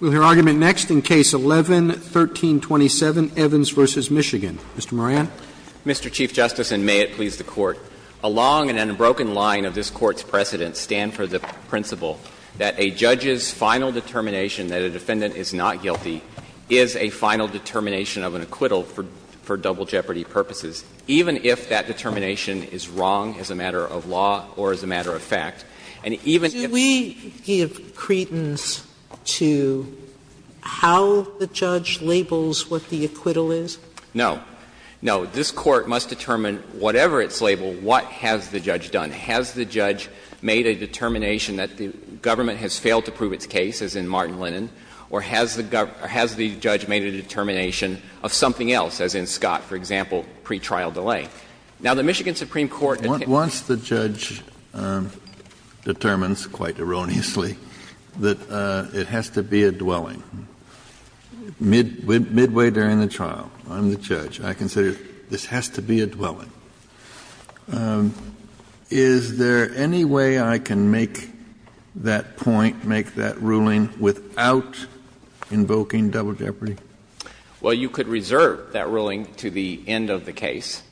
We'll hear argument next in Case 11-1327, Evans v. Michigan. Mr. Moran. Mr. Chief Justice, and may it please the Court, a long and unbroken line of this Court's precedents stand for the principle that a judge's final determination that a defendant is not guilty is a final determination of an acquittal for double jeopardy purposes, even if that determination is wrong as a matter of law or as a matter of fact, and even if— Sotomayor, do we give credence to how the judge labels what the acquittal is? No. No. This Court must determine, whatever its label, what has the judge done. Has the judge made a determination that the government has failed to prove its case, as in Martin Lennon, or has the judge made a determination of something else, as in Scott, for example, pretrial delay? Now, the Michigan Supreme Court— Once the judge determines, quite erroneously, that it has to be a dwelling, midway during the trial, I'm the judge, I can say this has to be a dwelling. Is there any way I can make that point, make that ruling, without invoking double jeopardy? Well, you could reserve that ruling to the end of the case.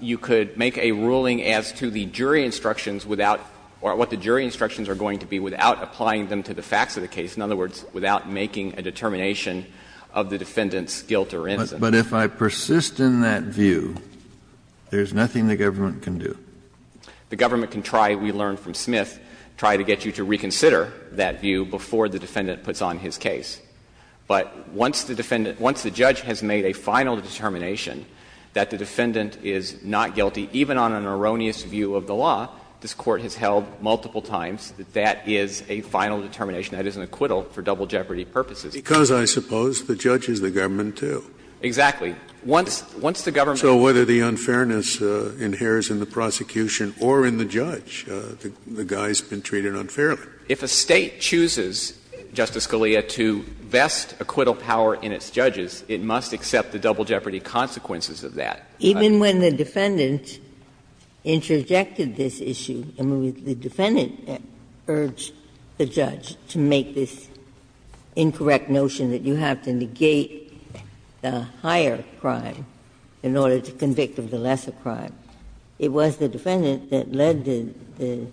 You could make a ruling as to the jury instructions without — or what the jury instructions are going to be without applying them to the facts of the case, in other words, without making a determination of the defendant's guilt or innocence. But if I persist in that view, there's nothing the government can do? The government can try, we learned from Smith, try to get you to reconsider that view before the defendant puts on his case. But once the defendant — once the judge has made a final determination that the defendant is not guilty, even on an erroneous view of the law, this Court has held multiple times that that is a final determination, that is an acquittal for double jeopardy purposes. Because, I suppose, the judge is the government, too. Exactly. Once the government— So whether the unfairness inheres in the prosecution or in the judge, the guy's been treated unfairly. If a State chooses, Justice Scalia, to vest acquittal power in its judges, it must accept the double jeopardy consequences of that. Even when the defendant interjected this issue, I mean, the defendant urged the judge to make this incorrect notion that you have to negate the higher crime in order to convict of the lesser crime. It was the defendant that led the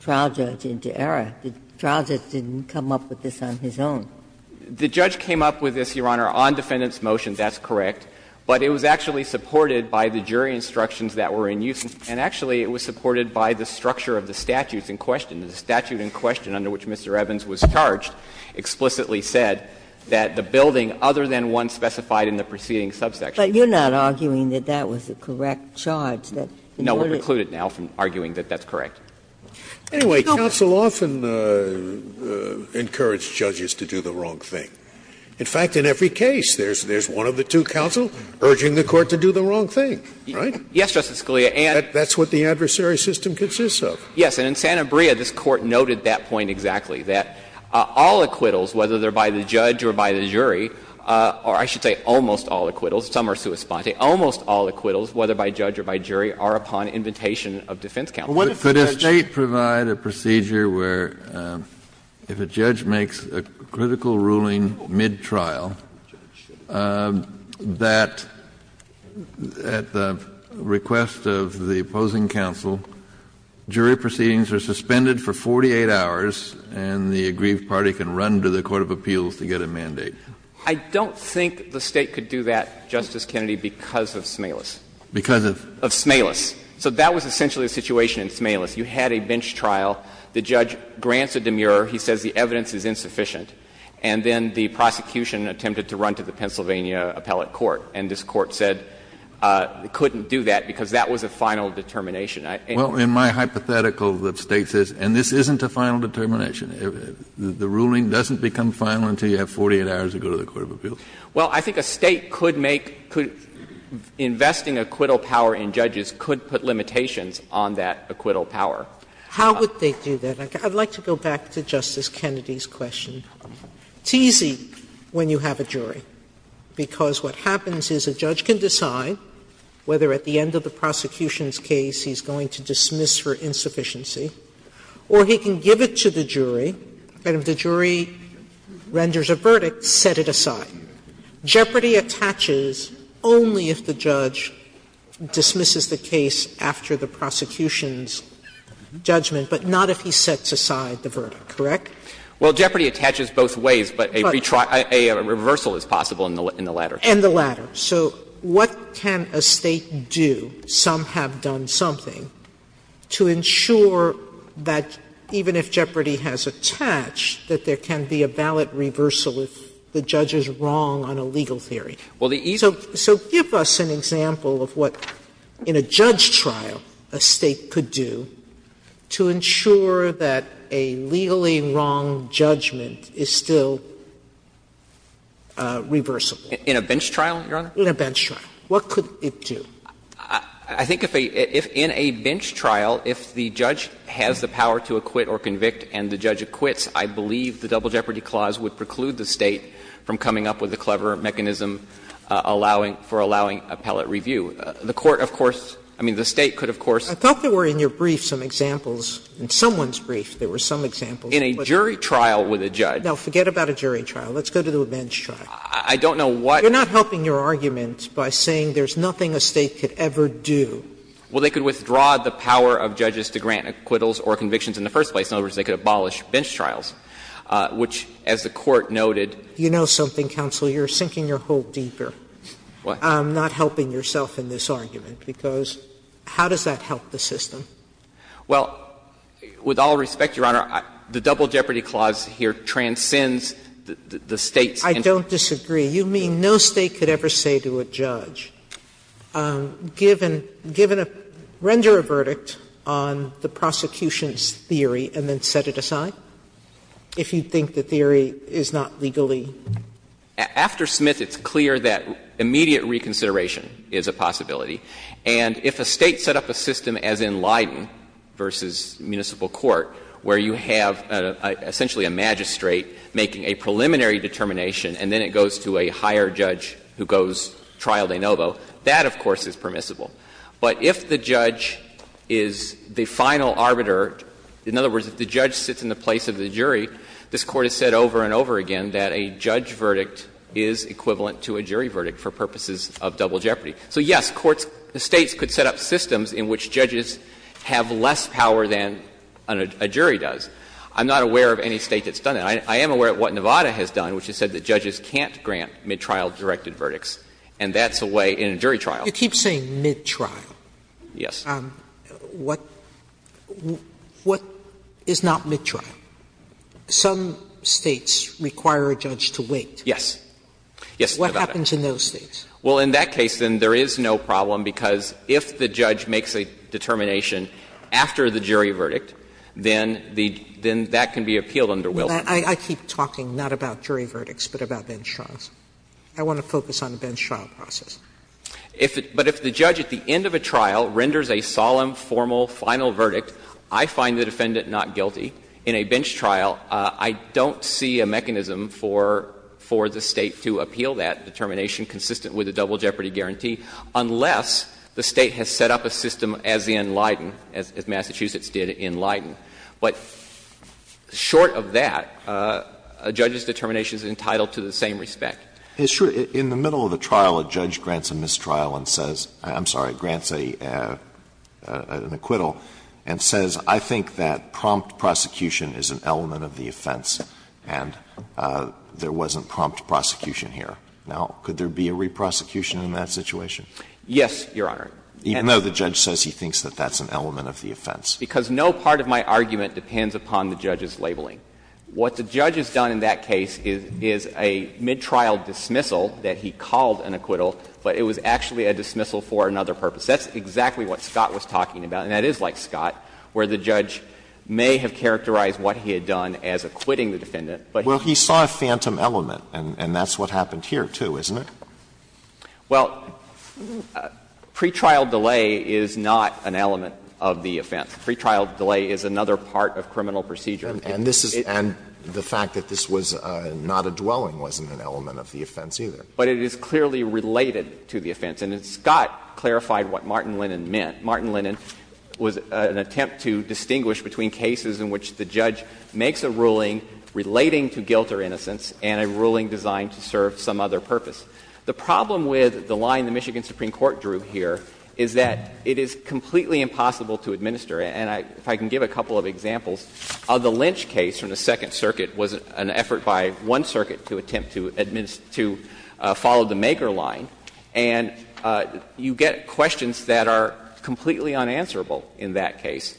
trial judge into error. The trial judge didn't come up with this on his own. The judge came up with this, Your Honor, on defendant's motion. That's correct. But it was actually supported by the jury instructions that were in use, and actually it was supported by the structure of the statutes in question. The statute in question under which Mr. Evans was charged explicitly said that the building other than one specified in the preceding subsection. But you're not arguing that that was the correct charge. No, we're excluded now from arguing that that's correct. Anyway, counsel often encourages judges to do the wrong thing. In fact, in every case, there's one of the two counsels urging the court to do the wrong thing, right? Yes, Justice Scalia, and that's what the adversary system consists of. Yes, and in Santa Maria, this Court noted that point exactly, that all acquittals, whether they're by the judge or by the jury, or I should say almost all acquittals, some are sua sponte, almost all acquittals, whether by judge or by jury, are upon invitation of defense counsel. But if a judge makes a critical ruling mid-trial, that at the request of the opposing counsel, jury proceedings are suspended for 48 hours, and the aggrieved party can run I don't think the State could do that, Justice Kennedy, because of Smalas. Because of? Of Smalas. So that was essentially the situation in Smalas. You had a bench trial. The judge grants a demur. He says the evidence is insufficient. And then the prosecution attempted to run to the Pennsylvania appellate court, and this Court said it couldn't do that because that was a final determination. Well, in my hypothetical, the State says, and this isn't a final determination. The ruling doesn't become final until you have 48 hours to go to the court of appeals. Well, I think a State could make – investing acquittal power in judges could put limitations on that acquittal power. How would they do that? I'd like to go back to Justice Kennedy's question. It's easy when you have a jury, because what happens is a judge can decide whether at the end of the prosecution's case he's going to dismiss for insufficiency or he can give it to the jury, and if the jury renders a verdict, set it aside. Jeopardy attaches only if the judge dismisses the case after the prosecution's judgment, but not if he sets aside the verdict, correct? Well, jeopardy attaches both ways, but a reversal is possible in the latter. And the latter. So what can a State do, some have done something, to ensure that even if jeopardy has attached, that there can be a valid reversal if the judge is wrong on a legal theory? So give us an example of what, in a judge trial, a State could do to ensure that a legally wrong judgment is still reversible. In a bench trial, Your Honor? In a bench trial. What could it do? I think if a ‑‑ if in a bench trial, if the judge has the power to acquit or convict and the judge acquits, I believe the Double Jeopardy Clause would preclude the State from coming up with a clever mechanism allowing ‑‑ for allowing appellate review. The Court, of course, I mean, the State could, of course ‑‑ I thought there were in your brief some examples, in someone's brief, there were some examples. In a jury trial with a judge ‑‑ No, forget about a jury trial. Let's go to the bench trial. I don't know what ‑‑ You're not helping your argument by saying there's nothing a State could ever do. Well, they could withdraw the power of judges to grant acquittals or convictions in the first place. In other words, they could abolish bench trials, which, as the Court noted ‑‑ You know something, counsel, you're sinking your hole deeper. What? Not helping yourself in this argument, because how does that help the system? Well, with all respect, Your Honor, the Double Jeopardy Clause here transcends the State's ‑‑ I don't disagree. You mean no State could ever say to a judge, give a ‑‑ render a verdict on the prosecution's theory and then set it aside? If you think the theory is not legally ‑‑ After Smith, it's clear that immediate reconsideration is a possibility. And if a State set up a system as in Leiden v. Municipal Court, where you have essentially a magistrate making a preliminary determination, and then it goes to a higher judge who goes trial de novo, that, of course, is permissible. But if the judge is the final arbiter, in other words, if the judge sits in the place of the jury, this Court has said over and over again that a judge verdict is equivalent to a jury verdict for purposes of double jeopardy. So, yes, courts ‑‑ the States could set up systems in which judges have less power than a jury does. I'm not aware of any State that's done that. I am aware of what Nevada has done, which has said that judges can't grant midtrial directed verdicts. And that's a way in a jury trial ‑‑ You keep saying midtrial. Yes. What is not midtrial? Some States require a judge to wait. Yes. Yes, Nevada. What happens in those States? Well, in that case, then, there is no problem, because if the judge makes a determination after the jury verdict, then the ‑‑ then that can be appealed under Wilk. I keep talking not about jury verdicts, but about bench trials. I want to focus on the bench trial process. If it ‑‑ but if the judge at the end of a trial renders a solemn, formal, final verdict, I find the defendant not guilty, in a bench trial, I don't see a mechanism for ‑‑ for the State to appeal that determination consistent with the double in Leiden, as Massachusetts did in Leiden. But short of that, a judge's determination is entitled to the same respect. It's true. In the middle of the trial, a judge grants a mistrial and says ‑‑ I'm sorry, grants an acquittal and says, I think that prompt prosecution is an element of the offense, and there wasn't prompt prosecution here. Now, could there be a reprosecution in that situation? Yes, Your Honor. Even though the judge says he thinks that that's an element of the offense. Because no part of my argument depends upon the judge's labeling. What the judge has done in that case is a midtrial dismissal that he called an acquittal, but it was actually a dismissal for another purpose. That's exactly what Scott was talking about, and that is like Scott, where the judge may have characterized what he had done as acquitting the defendant, but he didn't. Well, he saw a phantom element, and that's what happened here, too, isn't it? Well, pretrial delay is not an element of the offense. Pretrial delay is another part of criminal procedure. And this is ‑‑ and the fact that this was not a dwelling wasn't an element of the offense, either. But it is clearly related to the offense. And Scott clarified what Martin Linnan meant. Martin Linnan was an attempt to distinguish between cases in which the judge makes a ruling relating to guilt or innocence and a ruling designed to serve some other purpose. The problem with the line the Michigan Supreme Court drew here is that it is completely impossible to administer. And if I can give a couple of examples, the Lynch case from the Second Circuit was an effort by one circuit to attempt to follow the Maker line, and you get questions that are completely unanswerable in that case.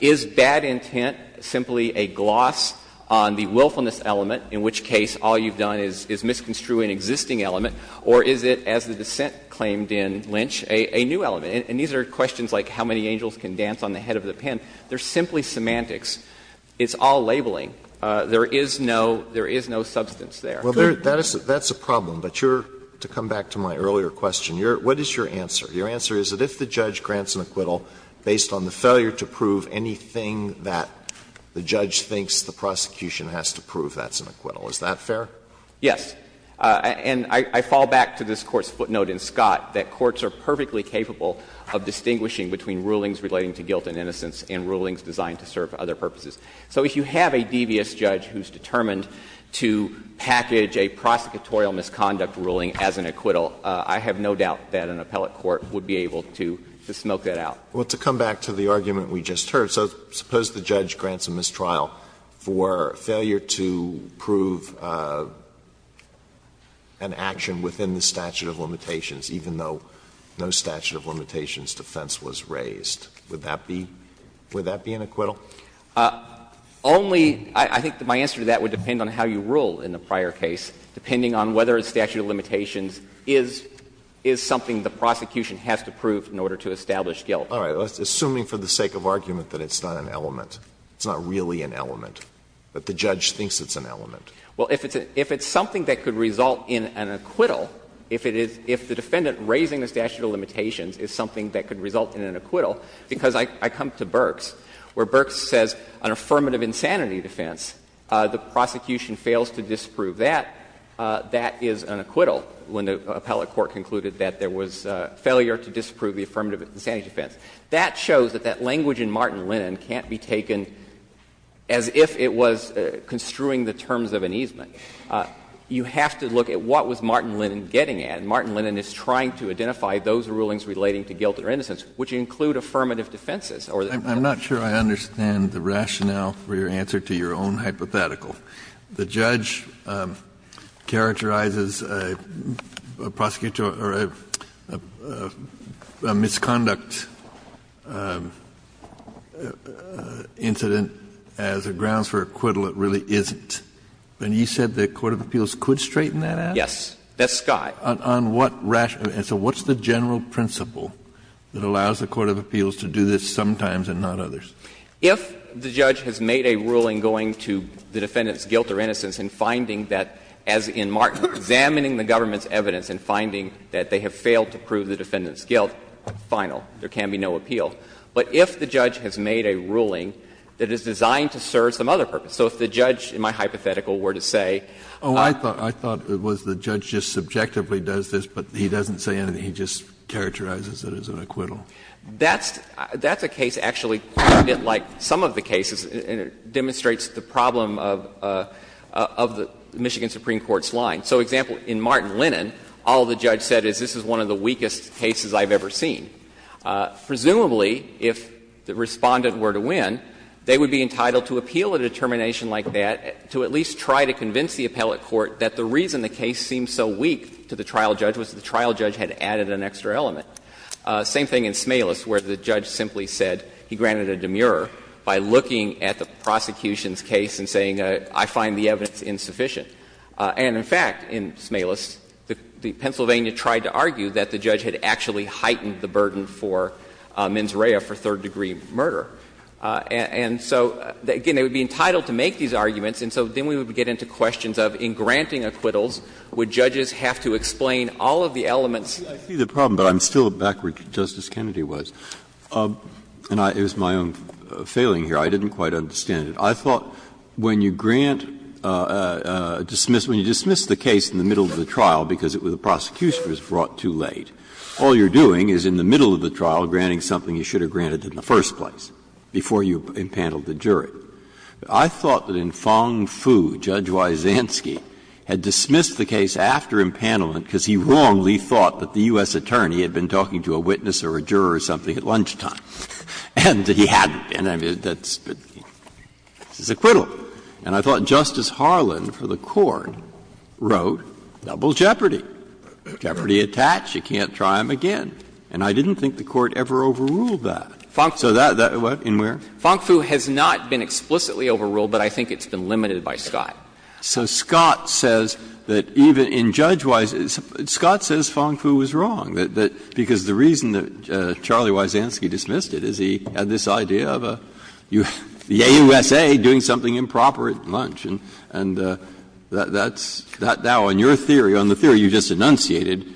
Is bad intent simply a gloss on the willfulness element, in which case all you've done is misconstrue an existing element, or is it, as the dissent claimed in Lynch, a new element? And these are questions like how many angels can dance on the head of the pen. They're simply semantics. It's all labeling. There is no ‑‑ there is no substance there. Alito, that's a problem, but you're ‑‑ to come back to my earlier question, what is your answer? Your answer is that if the judge grants an acquittal based on the failure to prove anything that the judge thinks the prosecution has to prove, that's an acquittal. Is that fair? Yes. And I fall back to this Court's footnote in Scott that courts are perfectly capable of distinguishing between rulings relating to guilt and innocence and rulings designed to serve other purposes. So if you have a devious judge who is determined to package a prosecutorial misconduct ruling as an acquittal, I have no doubt that an appellate court would be able to smoke that out. Well, to come back to the argument we just heard, so suppose the judge grants a mistrial for failure to prove an action within the statute of limitations, even though no statute of limitations defense was raised, would that be ‑‑ would that be an acquittal? Only ‑‑ I think my answer to that would depend on how you rule in the prior case, depending on whether a statute of limitations is something the prosecution has to prove in order to establish guilt. All right. Assuming for the sake of argument that it's not an element. It's not really an element, that the judge thinks it's an element. Well, if it's something that could result in an acquittal, if it is ‑‑ if the defendant raising the statute of limitations is something that could result in an acquittal, because I come to Burks, where Burks says an affirmative insanity defense, the prosecution fails to disprove that, that is an acquittal when the appellate court concluded that there was failure to disprove the affirmative insanity defense. That shows that that language in Martin Lennon can't be taken as if it was construing the terms of an easement. You have to look at what was Martin Lennon getting at. And Martin Lennon is trying to identify those rulings relating to guilt or innocence, which include affirmative defenses or ‑‑ I'm not sure I understand the rationale for your answer to your own hypothetical. The judge characterizes a prosecutor or a misconduct incident as a grounds for acquittal. It really isn't. And you said the court of appeals could straighten that out? Yes. That's Scott. On what rationale? And so what's the general principle that allows the court of appeals to do this sometimes and not others? If the judge has made a ruling going to the defendant's guilt or innocence and finding that, as in Martin, examining the government's evidence and finding that they have failed to prove the defendant's guilt, final, there can be no appeal. But if the judge has made a ruling that is designed to serve some other purpose, so if the judge in my hypothetical were to say ‑‑ Oh, I thought it was the judge just subjectively does this, but he doesn't say anything. He just characterizes it as an acquittal. That's a case actually quite a bit like some of the cases, and it demonstrates the problem of the Michigan Supreme Court's line. So, example, in Martin Lennon, all the judge said is this is one of the weakest cases I've ever seen. Presumably, if the Respondent were to win, they would be entitled to appeal a determination like that to at least try to convince the appellate court that the reason the case seemed so weak to the trial judge was that the trial judge had added an extra element. Same thing in Smalis, where the judge simply said he granted a demurrer by looking at the prosecution's case and saying, I find the evidence insufficient. And, in fact, in Smalis, the Pennsylvania tried to argue that the judge had actually heightened the burden for mens rea for third-degree murder. And so, again, they would be entitled to make these arguments, and so then we would get into questions of in granting acquittals, would judges have to explain all of the elements ‑‑ Breyer. I see the problem, but I'm still back where Justice Kennedy was. And it was my own failing here. I didn't quite understand it. I thought when you grant a dismiss ‑‑ when you dismiss the case in the middle of the trial because the prosecution was brought too late, all you're doing is in the middle of the trial granting something you should have granted in the first place before you impaneled the jury. I thought that in Fang Fu, Judge Wysanski had dismissed the case after impanelment because he wrongly thought that the U.S. attorney had been talking to a witness or a juror or something at lunchtime, and that he hadn't been. I mean, that's his acquittal. And I thought Justice Harlan for the Court wrote double jeopardy, jeopardy attached, you can't try him again. And I didn't think the Court ever overruled that. So that ‑‑ what, in where? Fang Fu has not been explicitly overruled, but I think it's been limited by Scott. Breyer, so Scott says that even in Judge Wysanski ‑‑ Scott says Fang Fu was wrong, because the reason that Charlie Wysanski dismissed it is he had this idea of a ‑‑ yay, USA, doing something improper at lunch. And that's ‑‑ now, on your theory, on the theory you just enunciated,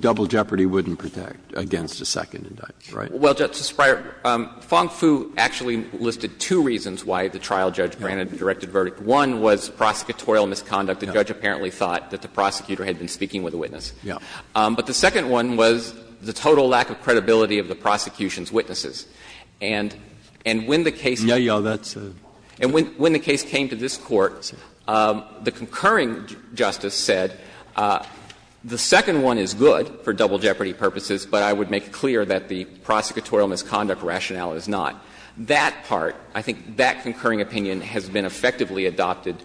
double jeopardy wouldn't protect against a second indictment, right? Well, Justice Breyer, Fang Fu actually listed two reasons why the trial judge granted a directed verdict. One was prosecutorial misconduct. The judge apparently thought that the prosecutor had been speaking with the witness. But the second one was the total lack of credibility of the prosecution's witnesses. And when the case came to this Court, the concurring justice said, the second one is good for double jeopardy purposes, but I would make it clear that the prosecutorial misconduct rationale is not. That part, I think that concurring opinion has been effectively adopted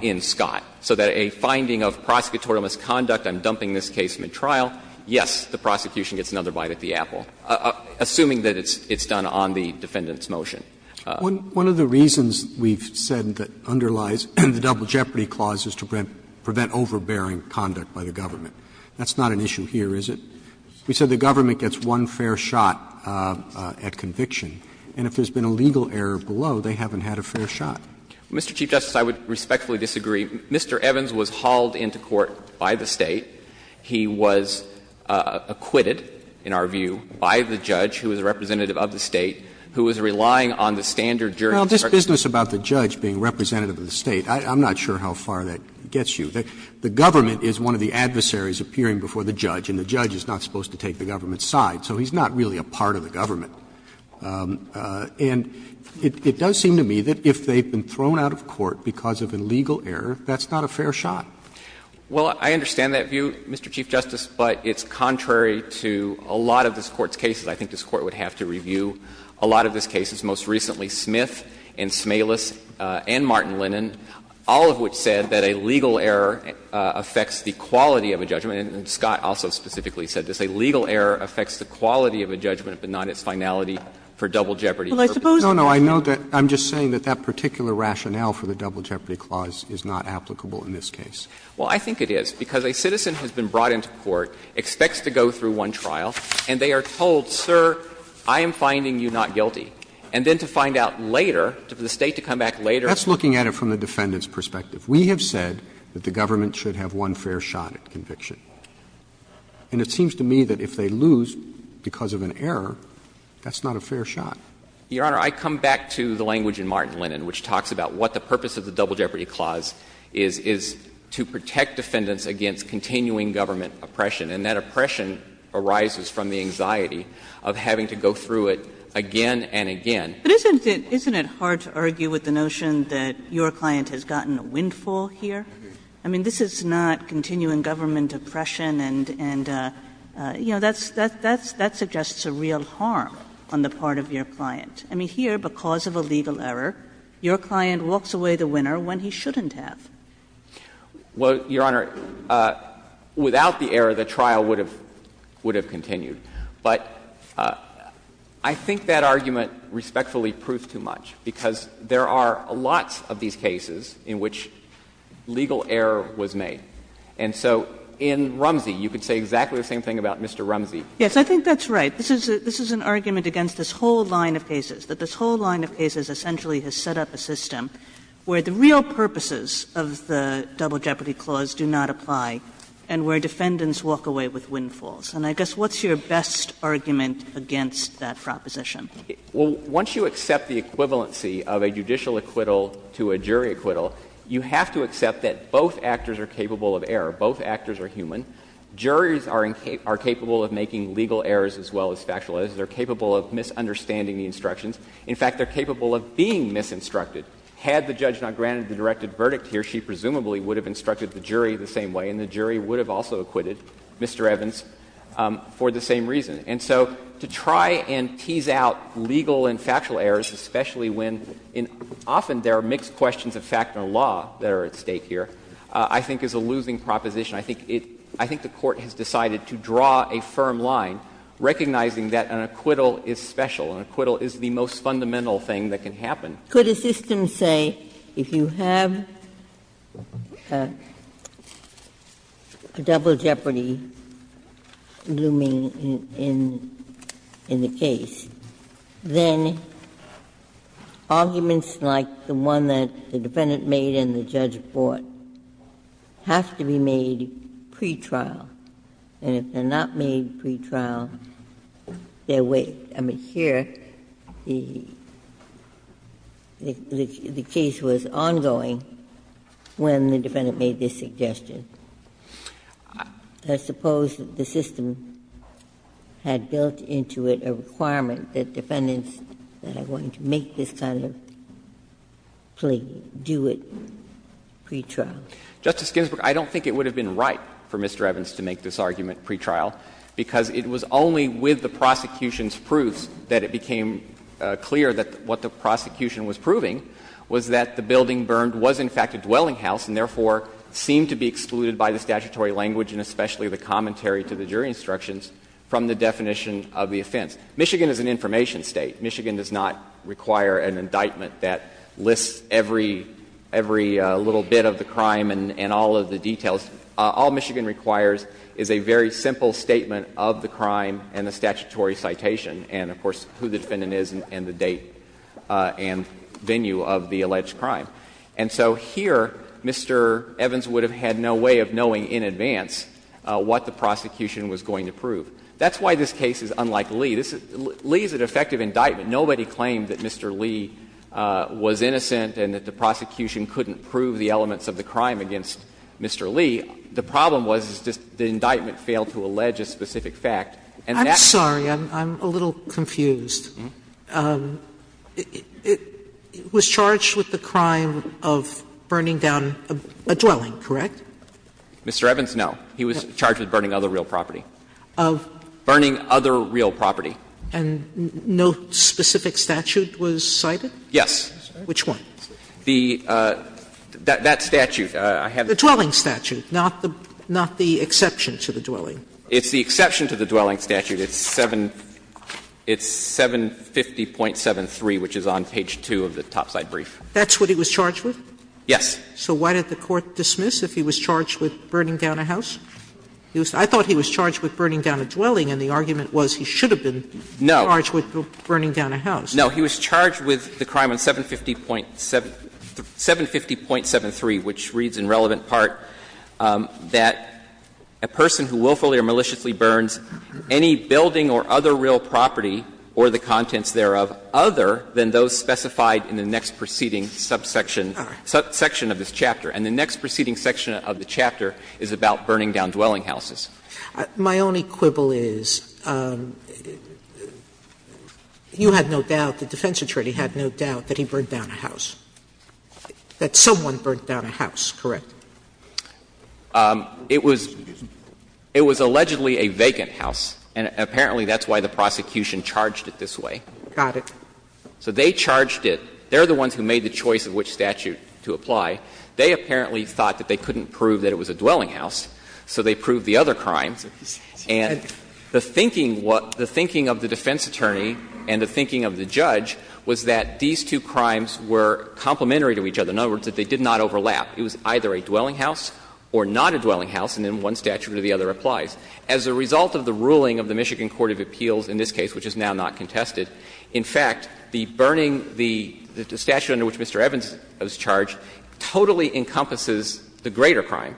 in Scott, so that a finding of prosecutorial misconduct, I'm dumping this case midtrial, yes, the prosecution gets another bite at the apple, assuming that it's done on the defendant's motion. One of the reasons we've said that underlies the double jeopardy clause is to prevent overbearing conduct by the government. That's not an issue here, is it? We said the government gets one fair shot at conviction, and if there's been a legal error below, they haven't had a fair shot. Mr. Chief Justice, I would respectfully disagree. Mr. Evans was hauled into court by the State. He was acquitted, in our view, by the judge, who was a representative of the State, who was relying on the standard jury judgment. Well, this business about the judge being representative of the State, I'm not sure how far that gets you. The government is one of the adversaries appearing before the judge, and the judge is not supposed to take the government's side, so he's not really a part of the government. And it does seem to me that if they've been thrown out of court because of a legal error, that's not a fair shot. Well, I understand that view, Mr. Chief Justice, but it's contrary to a lot of this Court's cases. I think this Court would have to review a lot of this case's, most recently, Smith and Smalis and Martin Lennon, all of which said that a legal error affects the quality of a judgment, and Scott also specifically said this, a legal error affects the quality of a judgment but not its finality for double jeopardy purposes. No, no, I'm just saying that that particular rationale for the double jeopardy clause is not applicable in this case. Well, I think it is, because a citizen has been brought into court, expects to go through one trial, and they are told, sir, I am finding you not guilty, and then to find out later, for the State to come back later. That's looking at it from the defendant's perspective. We have said that the government should have one fair shot at conviction. And it seems to me that if they lose because of an error, that's not a fair shot. Your Honor, I come back to the language in Martin Lennon which talks about what the purpose of the double jeopardy clause is, is to protect defendants against continuing government oppression. And that oppression arises from the anxiety of having to go through it again and again. But isn't it hard to argue with the notion that your client has gotten a windfall here? I mean, this is not continuing government oppression, and, you know, that's ‑‑ that suggests a real harm on the part of your client. I mean, here, because of a legal error, your client walks away the winner when he shouldn't have. Well, Your Honor, without the error, the trial would have continued. But I think that argument respectfully proves too much, because there are lots of these cases in which legal error was made. And so in Rumsey, you could say exactly the same thing about Mr. Rumsey. Yes, I think that's right. This is an argument against this whole line of cases, that this whole line of cases essentially has set up a system where the real purposes of the double jeopardy clause do not apply, and where defendants walk away with windfalls. And I guess what's your best argument against that proposition? Well, once you accept the equivalency of a judicial acquittal to a jury acquittal, you have to accept that both actors are capable of error. Both actors are human. Juries are capable of making legal errors as well as factual errors. They're capable of misunderstanding the instructions. In fact, they're capable of being misinstructed. Had the judge not granted the directed verdict here, she presumably would have instructed the jury the same way, and the jury would have also acquitted Mr. Evans. For the same reason. And so to try and tease out legal and factual errors, especially when in often there are mixed questions of fact and law that are at stake here, I think is a losing proposition. I think it — I think the Court has decided to draw a firm line, recognizing that an acquittal is special. An acquittal is the most fundamental thing that can happen. Ginsburg. Could a system say if you have a double jeopardy looming in the case, then arguments like the one that the defendant made and the judge brought have to be made pretrial, and if they're not made pretrial, they're waived. I mean, here, the case was ongoing when the defendant made this suggestion. I suppose the system had built into it a requirement that defendants that are going to make this kind of plea do it pretrial. Justice Ginsburg, I don't think it would have been right for Mr. Evans to make this claim, which proves that it became clear that what the prosecution was proving was that the building burned was, in fact, a dwelling house, and therefore seemed to be excluded by the statutory language and especially the commentary to the jury instructions from the definition of the offense. Michigan is an information State. Michigan does not require an indictment that lists every little bit of the crime and all of the details. All Michigan requires is a very simple statement of the crime and the statutory citation and, of course, who the defendant is and the date and venue of the alleged crime. And so here, Mr. Evans would have had no way of knowing in advance what the prosecution was going to prove. That's why this case is unlike Lee. Lee is an effective indictment. Nobody claimed that Mr. Lee was innocent and that the prosecution couldn't prove the elements of the crime against Mr. Lee. The problem was that the indictment failed to allege a specific fact. And that's the problem. Sotomayor, I'm a little confused. It was charged with the crime of burning down a dwelling, correct? Mr. Evans, no. He was charged with burning other real property. Of? Burning other real property. And no specific statute was cited? Yes. Which one? The that statute. The dwelling statute, not the exception to the dwelling. It's the exception to the dwelling statute. It's 750.73, which is on page 2 of the topside brief. That's what he was charged with? Yes. So why did the Court dismiss if he was charged with burning down a house? I thought he was charged with burning down a dwelling, and the argument was he should have been charged with burning down a house. No. He was charged with the crime on 750.73, which reads in relevant part that a person who willfully or maliciously burns any building or other real property or the contents thereof other than those specified in the next preceding subsection of this chapter. And the next preceding section of the chapter is about burning down dwelling houses. My only quibble is you had no doubt, the defense attorney had no doubt that he burned down a house, that someone burned down a house, correct? It was allegedly a vacant house, and apparently that's why the prosecution charged it this way. Got it. So they charged it. They're the ones who made the choice of which statute to apply. They apparently thought that they couldn't prove that it was a dwelling house, so they proved the other crimes. And the thinking of the defense attorney and the thinking of the judge was that these two crimes were complementary to each other, in other words, that they did not overlap. It was either a dwelling house or not a dwelling house, and then one statute or the other applies. As a result of the ruling of the Michigan Court of Appeals in this case, which is now not contested, in fact, the burning the statute under which Mr. Evans was charged totally encompasses the greater crime,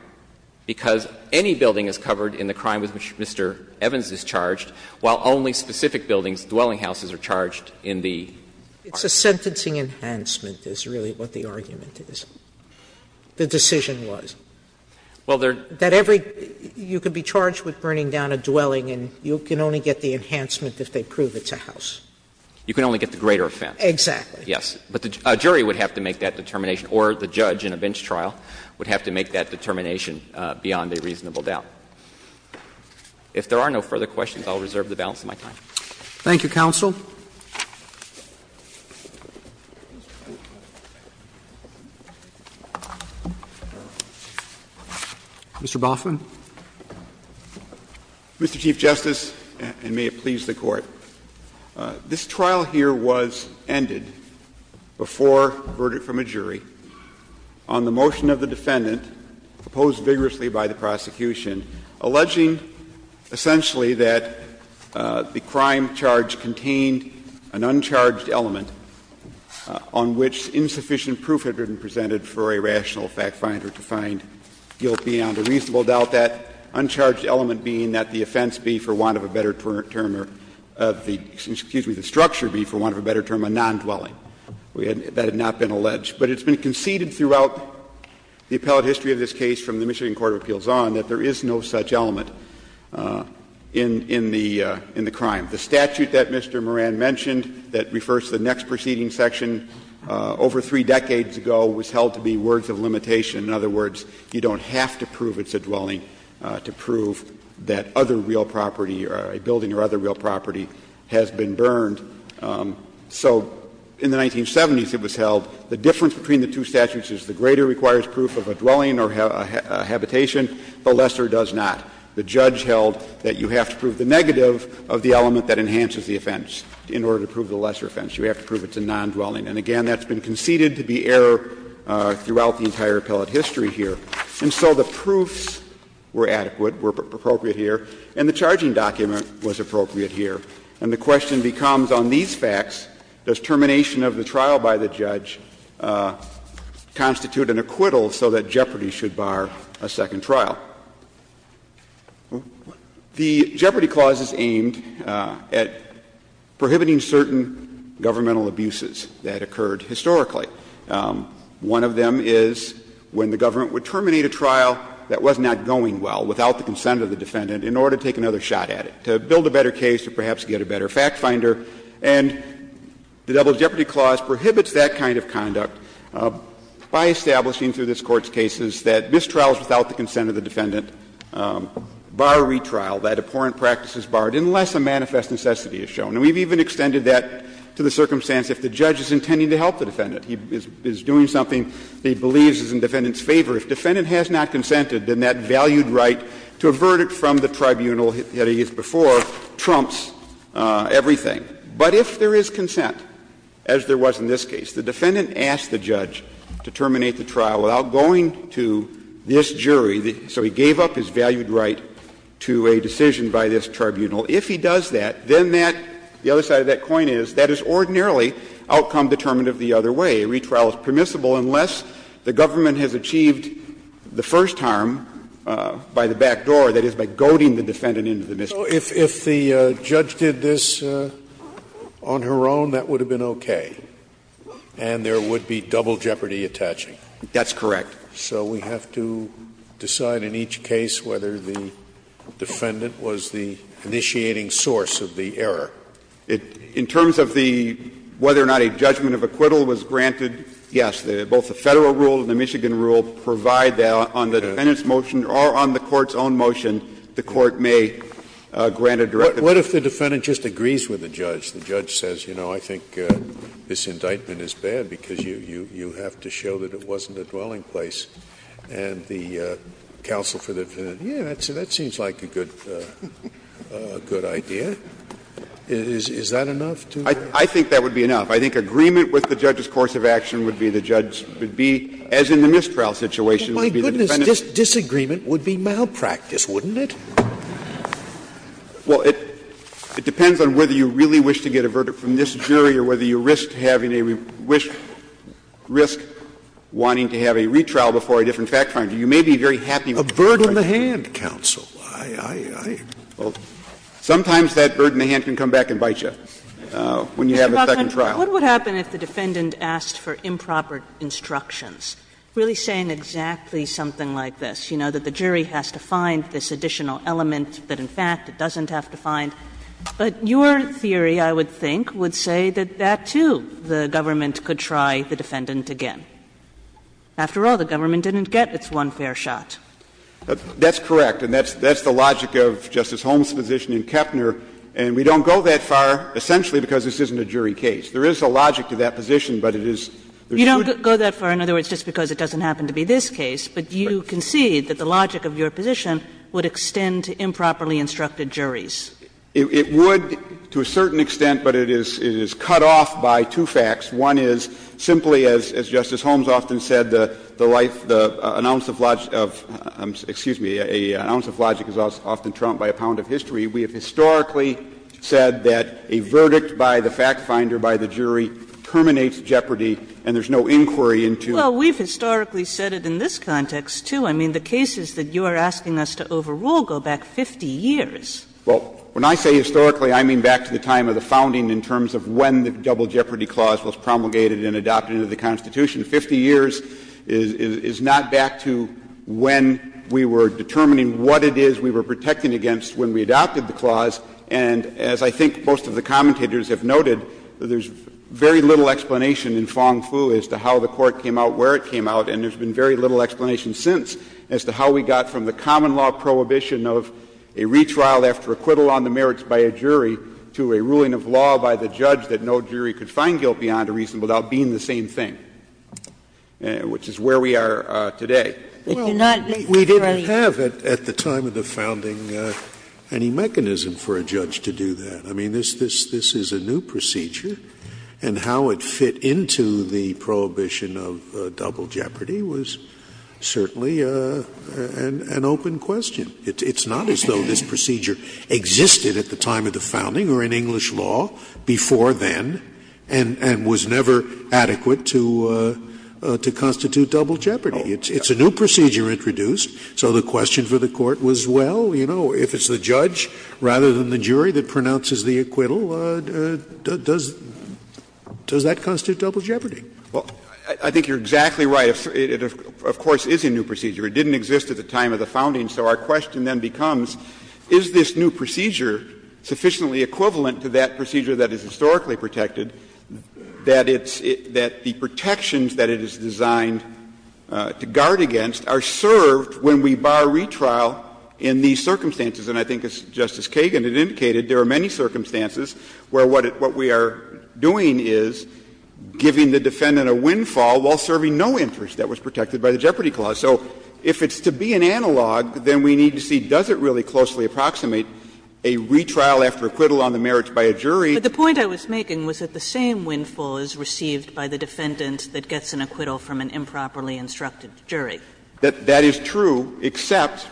because any building is covered in the crime with which Mr. Evans is charged, while only specific buildings, dwelling houses, are charged in the statute. Sotomayor, it's a sentencing enhancement is really what the argument is. The decision was. That every you can be charged with burning down a dwelling and you can only get the enhancement if they prove it's a house. You can only get the greater offense. Exactly. Yes. But a jury would have to make that determination, or the judge in a bench trial would have to make that determination beyond a reasonable doubt. If there are no further questions, I'll reserve the balance of my time. Thank you, counsel. Mr. Boffman. Mr. Chief Justice, and may it please the Court. This trial here was ended before a verdict from a jury on the motion of the defendant proposed vigorously by the prosecution, alleging essentially that the crime charge contained an uncharged element on which insufficient proof had been presented for a rational factfinder to find guilt beyond a reasonable doubt, that uncharged element being that the offense be for want of a better term or the structure be for want of a better term a non-dwelling. That had not been alleged. But it's been conceded throughout the appellate history of this case from the Michigan Court of Appeals on that there is no such element in the crime. The statute that Mr. Moran mentioned that refers to the next proceeding section over three decades ago was held to be words of limitation. In other words, you don't have to prove it's a dwelling to prove that other real property or a building or other real property has been burned. So in the 1970s it was held the difference between the two statutes is the greater requires proof of a dwelling or a habitation, the lesser does not. The judge held that you have to prove the negative of the element that enhances the offense in order to prove the lesser offense. You have to prove it's a non-dwelling. And, again, that's been conceded to be error throughout the entire appellate history here. And so the proofs were adequate, were appropriate here, and the charging document was appropriate here. The second clause is aimed at prohibiting certain governmental abuses that occurred historically. One of them is when the government would terminate a trial that was not going well without the consent of the defendant in order to take another shot at it, to build a better case or perhaps get a better fact finder. And the Double Jeopardy Clause prohibits that kind of conduct in order to take another shot at it. By establishing through this Court's cases that mistrials without the consent of the defendant bar retrial, that abhorrent practice is barred, unless a manifest necessity is shown. And we've even extended that to the circumstance if the judge is intending to help the defendant. He is doing something that he believes is in the defendant's favor. If the defendant has not consented, then that valued right to a verdict from the tribunal that he has before trumps everything. But if there is consent, as there was in this case, the defendant asked the judge to terminate the trial without going to this jury, so he gave up his valued right to a decision by this tribunal. If he does that, then that, the other side of that coin is, that is ordinarily outcome determinative the other way. A retrial is permissible unless the government has achieved the first harm by the back door, that is, by goading the defendant into the mistrial. Scalia. So if the judge did this on her own, that would have been okay, and there would be double jeopardy attaching? That's correct. So we have to decide in each case whether the defendant was the initiating source of the error. In terms of the whether or not a judgment of acquittal was granted, yes, both the Federal rule and the Michigan rule provide that on the defendant's motion or on the defendant's motion. What if the defendant just agrees with the judge? The judge says, you know, I think this indictment is bad because you have to show that it wasn't a dwelling place. And the counsel for the defendant, yes, that seems like a good idea. Is that enough to? I think that would be enough. I think agreement with the judge's course of action would be the judge would be, as in the mistrial situation, would be the defendant's. Well, my goodness, disagreement would be malpractice, wouldn't it? Well, it depends on whether you really wish to get a verdict from this jury or whether you risk having a wish to risk wanting to have a retrial before a different fact-finding. You may be very happy with the verdict. A bird in the hand, counsel. I, I, I, well, sometimes that bird in the hand can come back and bite you when you have a second trial. What would happen if the defendant asked for improper instructions, really saying exactly something like this? You know, that the jury has to find this additional element that, in fact, it doesn't have to find. But your theory, I would think, would say that that, too, the government could try the defendant again. After all, the government didn't get its one fair shot. That's correct. And that's, that's the logic of Justice Holmes' position in Kepner. And we don't go that far, essentially, because this isn't a jury case. There is a logic to that position, but it is, there shouldn't be. You don't go that far, in other words, just because it doesn't happen to be this case, but you concede that the logic of your position would extend to improperly instructed juries. It, it would to a certain extent, but it is, it is cut off by two facts. One is simply, as, as Justice Holmes often said, the, the life, the, an ounce of logic of, excuse me, an ounce of logic is often trumped by a pound of history. We have historically said that a verdict by the fact finder, by the jury, terminates jeopardy and there's no inquiry into. Well, we've historically said it in this context, too. I mean, the cases that you are asking us to overrule go back 50 years. Well, when I say historically, I mean back to the time of the founding in terms of when the double jeopardy clause was promulgated and adopted into the Constitution. Fifty years is, is not back to when we were determining what it is we were protecting against when we adopted the clause. And as I think most of the commentators have noted, there's very little explanation in Fong-Fu as to how the court came out where it came out, and there's been very little explanation since as to how we got from the common law prohibition of a retrial after acquittal on the merits by a jury to a ruling of law by the judge that no jury could find guilt beyond a reason without being the same thing, which is where we are today. They do not make retrials. Scalia Well, we didn't have at the time of the founding any mechanism for a judge to do that. I mean, this is a new procedure, and how it fit into the prohibition of double jeopardy was certainly an open question. It's not as though this procedure existed at the time of the founding or in English law before then, and was never adequate to constitute double jeopardy. It's a new procedure introduced, so the question for the Court was, well, you know, if it's the judge rather than the jury that pronounces the acquittal, does that constitute double jeopardy? Verrilli, I think you're exactly right. It, of course, is a new procedure. It didn't exist at the time of the founding, so our question then becomes, is this new procedure sufficiently equivalent to that procedure that is historically protected that it's the protections that it is designed to guard against are served when we bar retrial in these circumstances? And I think, as Justice Kagan had indicated, there are many circumstances where what we are doing is giving the defendant a windfall while serving no interest that was protected by the Jeopardy Clause. So if it's to be an analog, then we need to see, does it really closely approximate a retrial after acquittal on the merits by a jury? Kagan But the point I was making was that the same windfall is received by the defendant that gets an acquittal from an improperly instructed jury. Verrilli, that is true, except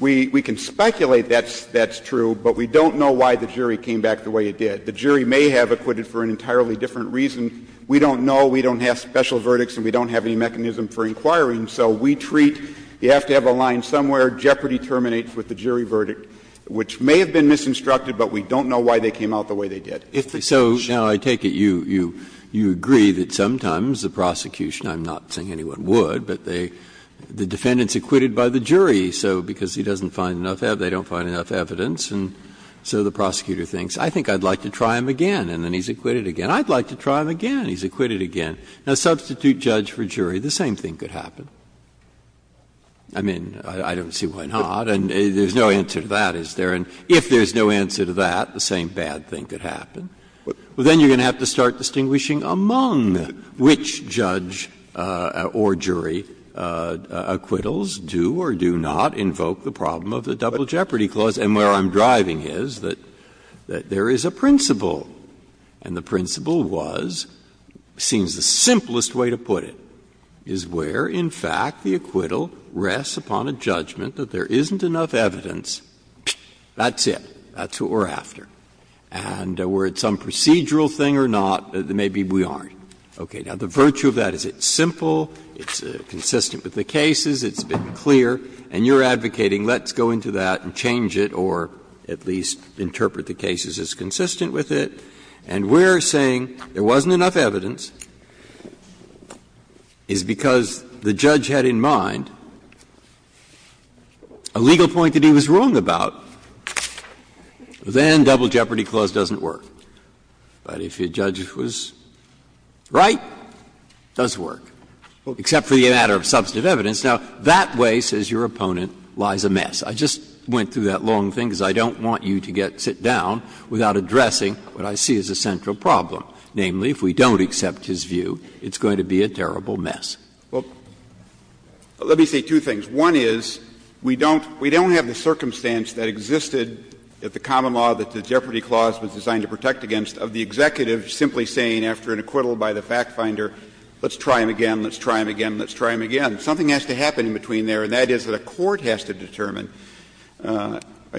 we can speculate that's true, but we don't know why the jury came back the way it did. The jury may have acquitted for an entirely different reason. We don't know. We don't have special verdicts and we don't have any mechanism for inquiring. So we treat, you have to have a line somewhere, Jeopardy terminates with the jury verdict, which may have been misinstructed, but we don't know why they came out the way they did. Breyer So, now, I take it you agree that sometimes the prosecution, I'm not saying anyone would, but the defendant's acquitted by the jury, so because he doesn't find enough evidence, they don't find enough evidence, and so the prosecutor thinks, I think I'd like to try him again, and then he's acquitted again. I'd like to try him again, he's acquitted again. Now, substitute judge for jury, the same thing could happen. I mean, I don't see why not, and there's no answer to that, is there? And if there's no answer to that, the same bad thing could happen. Well, then you're going to have to start distinguishing among which judge or jury acquittals do or do not invoke the problem of the Double Jeopardy Clause, and where I'm driving is that there is a principle, and the principle was, seems the simplest way to put it, is where, in fact, the acquittal rests upon a judgment that there isn't enough evidence, that's it, that's what we're after. And we're at some procedural thing or not, maybe we aren't. Okay. Now, the virtue of that is it's simple, it's consistent with the cases, it's been clear, and you're advocating let's go into that and change it or at least interpret the cases as consistent with it, and we're saying there wasn't enough evidence is because the judge had in mind a legal point that he was wrong about. Well, then Double Jeopardy Clause doesn't work. But if your judge was right, it does work, except for the matter of substantive evidence. Now, that way, says your opponent, lies a mess. I just went through that long thing because I don't want you to get to sit down without addressing what I see as a central problem, namely, if we don't accept his view, it's going to be a terrible mess. Well, let me say two things. One is, we don't have the circumstance that existed at the common law that the Jeopardy Clause was designed to protect against of the executive simply saying after an acquittal by the fact finder, let's try him again, let's try him again, let's try him again. Something has to happen in between there, and that is that a court has to determine —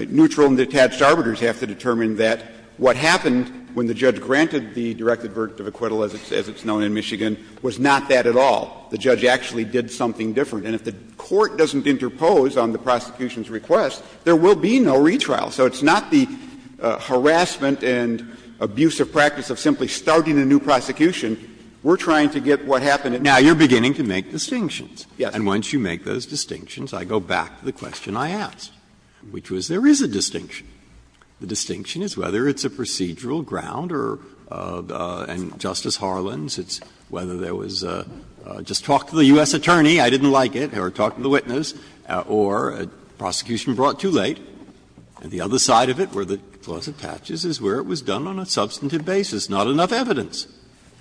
neutral and detached arbiters have to determine that what happened when the judge granted the direct advert of acquittal, as it's known in Michigan, was not that at all. The judge actually did something different. And if the court doesn't interpose on the prosecution's request, there will be no retrial. So it's not the harassment and abusive practice of simply starting a new prosecution. We're trying to get what happened in the past. Breyer. Now, you're beginning to make distinctions. Yes. And once you make those distinctions, I go back to the question I asked, which was there is a distinction. The distinction is whether it's a procedural ground or — and, Justice Harlan, it's whether there was a, just talk to the U.S. attorney, I didn't like it, or talk to the witness, or a prosecution brought too late. And the other side of it, where the clause attaches, is where it was done on a substantive basis, not enough evidence.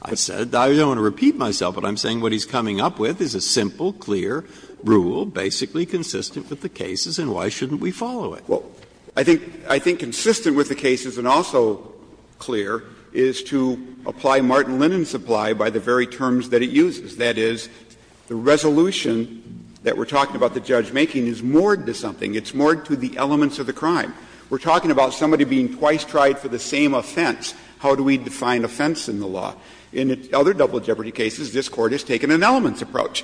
I said, I don't want to repeat myself, but I'm saying what he's coming up with is a simple, clear rule, basically consistent with the cases, and why shouldn't we follow it? Well, I think — I think consistent with the cases and also clear is to apply Martin and supply by the very terms that it uses, that is, the resolution that we're talking about the judge making is moored to something. It's moored to the elements of the crime. We're talking about somebody being twice tried for the same offense. How do we define offense in the law? In other double jeopardy cases, this Court has taken an elements approach.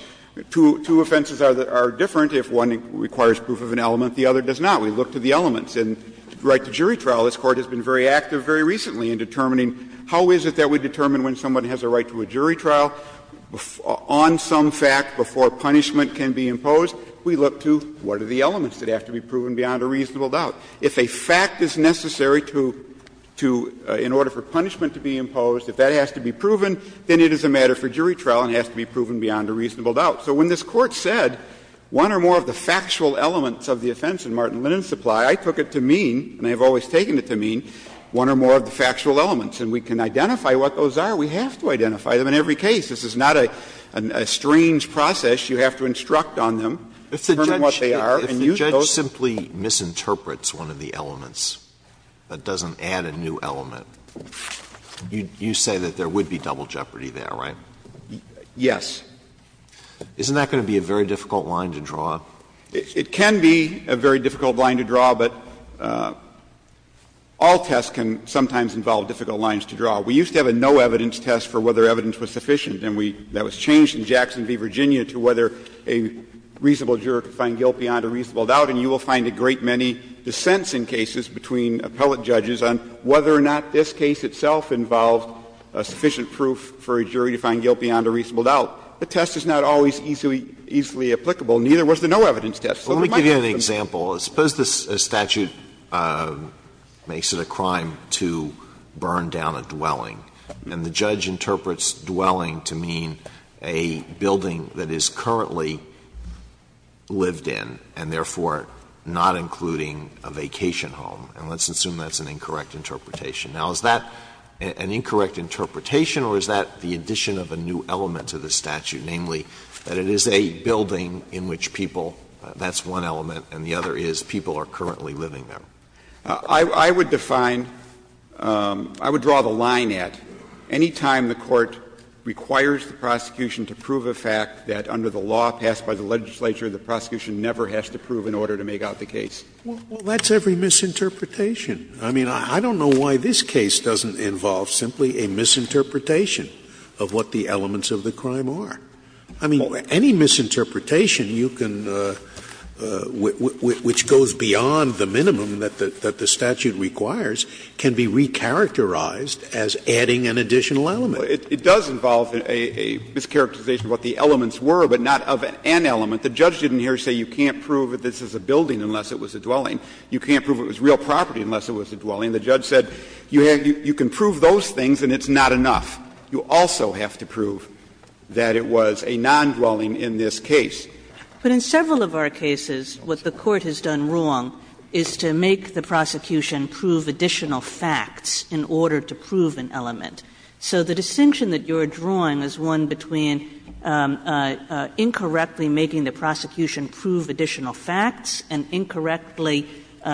Two offenses are different. If one requires proof of an element, the other does not. We look to the elements. And right to jury trial, this Court has been very active very recently in determining how is it that we determine when someone has a right to a jury trial on some fact before punishment can be imposed. We look to what are the elements that have to be proven beyond a reasonable doubt. If a fact is necessary to — to — in order for punishment to be imposed, if that has to be proven, then it is a matter for jury trial and has to be proven beyond a reasonable doubt. So when this Court said one or more of the factual elements of the offense in Martin and supply, I took it to mean, and I have always taken it to mean, one or more of the facts that have to be proven, we can identify what those are. We have to identify them in every case. This is not a strange process. You have to instruct on them, determine what they are, and use those. Alito, if the judge simply misinterprets one of the elements, doesn't add a new element, you say that there would be double jeopardy there, right? Yes. Isn't that going to be a very difficult line to draw? It can be a very difficult line to draw, but all tests can sometimes involve difficult lines to draw. We used to have a no-evidence test for whether evidence was sufficient, and we — that was changed in Jackson v. Virginia to whether a reasonable juror could find guilt beyond a reasonable doubt, and you will find a great many dissents in cases between appellate judges on whether or not this case itself involved sufficient proof for a jury to find guilt beyond a reasonable doubt. The test is not always easily applicable, neither was the no-evidence test. So it might have been — Alito, for example, suppose this statute makes it a crime to burn down a dwelling, and the judge interprets dwelling to mean a building that is currently lived in and therefore not including a vacation home. And let's assume that's an incorrect interpretation. Now, is that an incorrect interpretation, or is that the addition of a new element to the statute, namely that it is a building in which people — that's one element and the other is people are currently living there? I would define — I would draw the line at any time the Court requires the prosecution to prove a fact that under the law passed by the legislature, the prosecution never has to prove in order to make out the case. Well, that's every misinterpretation. I mean, I don't know why this case doesn't involve simply a misinterpretation of what the elements of the crime are. I mean, any misinterpretation you can — which goes beyond the minimum that the statute requires can be recharacterized as adding an additional element. It does involve a mischaracterization of what the elements were, but not of an element. The judge didn't hear say you can't prove that this is a building unless it was a dwelling. You can't prove it was real property unless it was a dwelling. The judge said you can prove those things and it's not enough. You also have to prove that it was a non-dwelling in this case. But in several of our cases, what the Court has done wrong is to make the prosecution prove additional facts in order to prove an element. So the distinction that you are drawing is one between incorrectly making the prosecution prove additional facts and incorrectly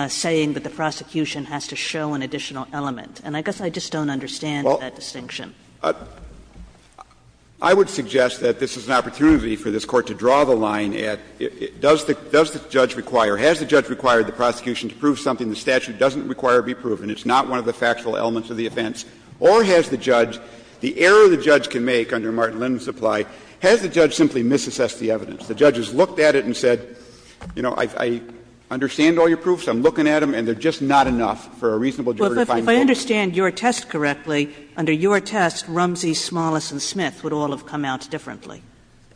saying that the prosecution has to show an additional element. And I guess I just don't understand that distinction. I would suggest that this is an opportunity for this Court to draw the line at does the judge require, has the judge required the prosecution to prove something the statute doesn't require to be proven, it's not one of the factual elements of the offense, or has the judge, the error the judge can make under Martin-Linden Supply, has the judge simply misassessed the evidence? The judge has looked at it and said, you know, I understand all your proofs, I'm just wondering how you would have assessed Rumsey, Smallis, and Smith would all have come out differently.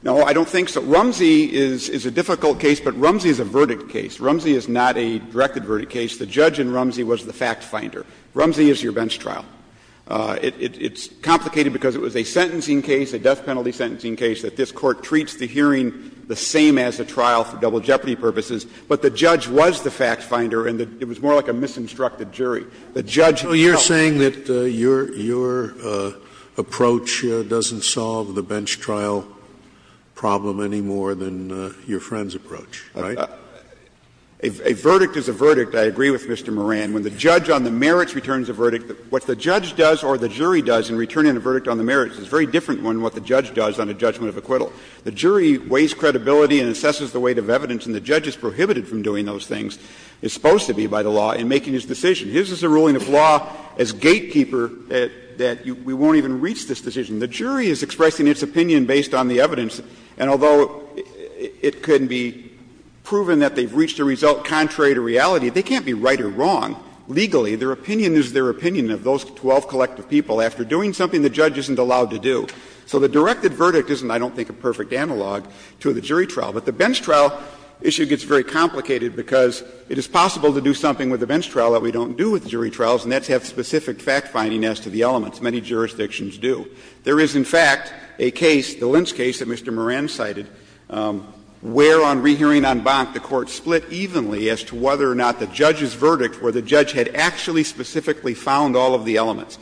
No, I don't think so. Rumsey is a difficult case, but Rumsey is a verdict case. Rumsey is not a directed verdict case. The judge in Rumsey was the fact finder. Rumsey is your bench trial. It's complicated because it was a sentencing case, a death penalty sentencing case, that this Court treats the hearing the same as the trial for double jeopardy jury. The judge, you're saying that your, your approach doesn't solve the bench trial problem any more than your friend's approach, right? A verdict is a verdict. I agree with Mr. Moran. When the judge on the merits returns a verdict, what the judge does or the jury does in returning a verdict on the merits is very different than what the judge does on a judgment of acquittal. The jury weighs credibility and assesses the weight of evidence, and the judge is prohibited from doing those things, is supposed to be by the law, in making his decision. His is a ruling of law as gatekeeper that we won't even reach this decision. The jury is expressing its opinion based on the evidence, and although it can be proven that they've reached a result contrary to reality, they can't be right or wrong legally. Their opinion is their opinion of those 12 collective people. After doing something, the judge isn't allowed to do. So the directed verdict isn't, I don't think, a perfect analog to the jury trial. But the bench trial issue gets very complicated because it is possible to do something with a bench trial that we don't do with jury trials, and that's have specific fact-finding as to the elements, many jurisdictions do. There is, in fact, a case, the Lentz case that Mr. Moran cited, where on rehearing en banc, the Court split evenly as to whether or not the judge's verdict, where the judge had actually specifically found all of the elements.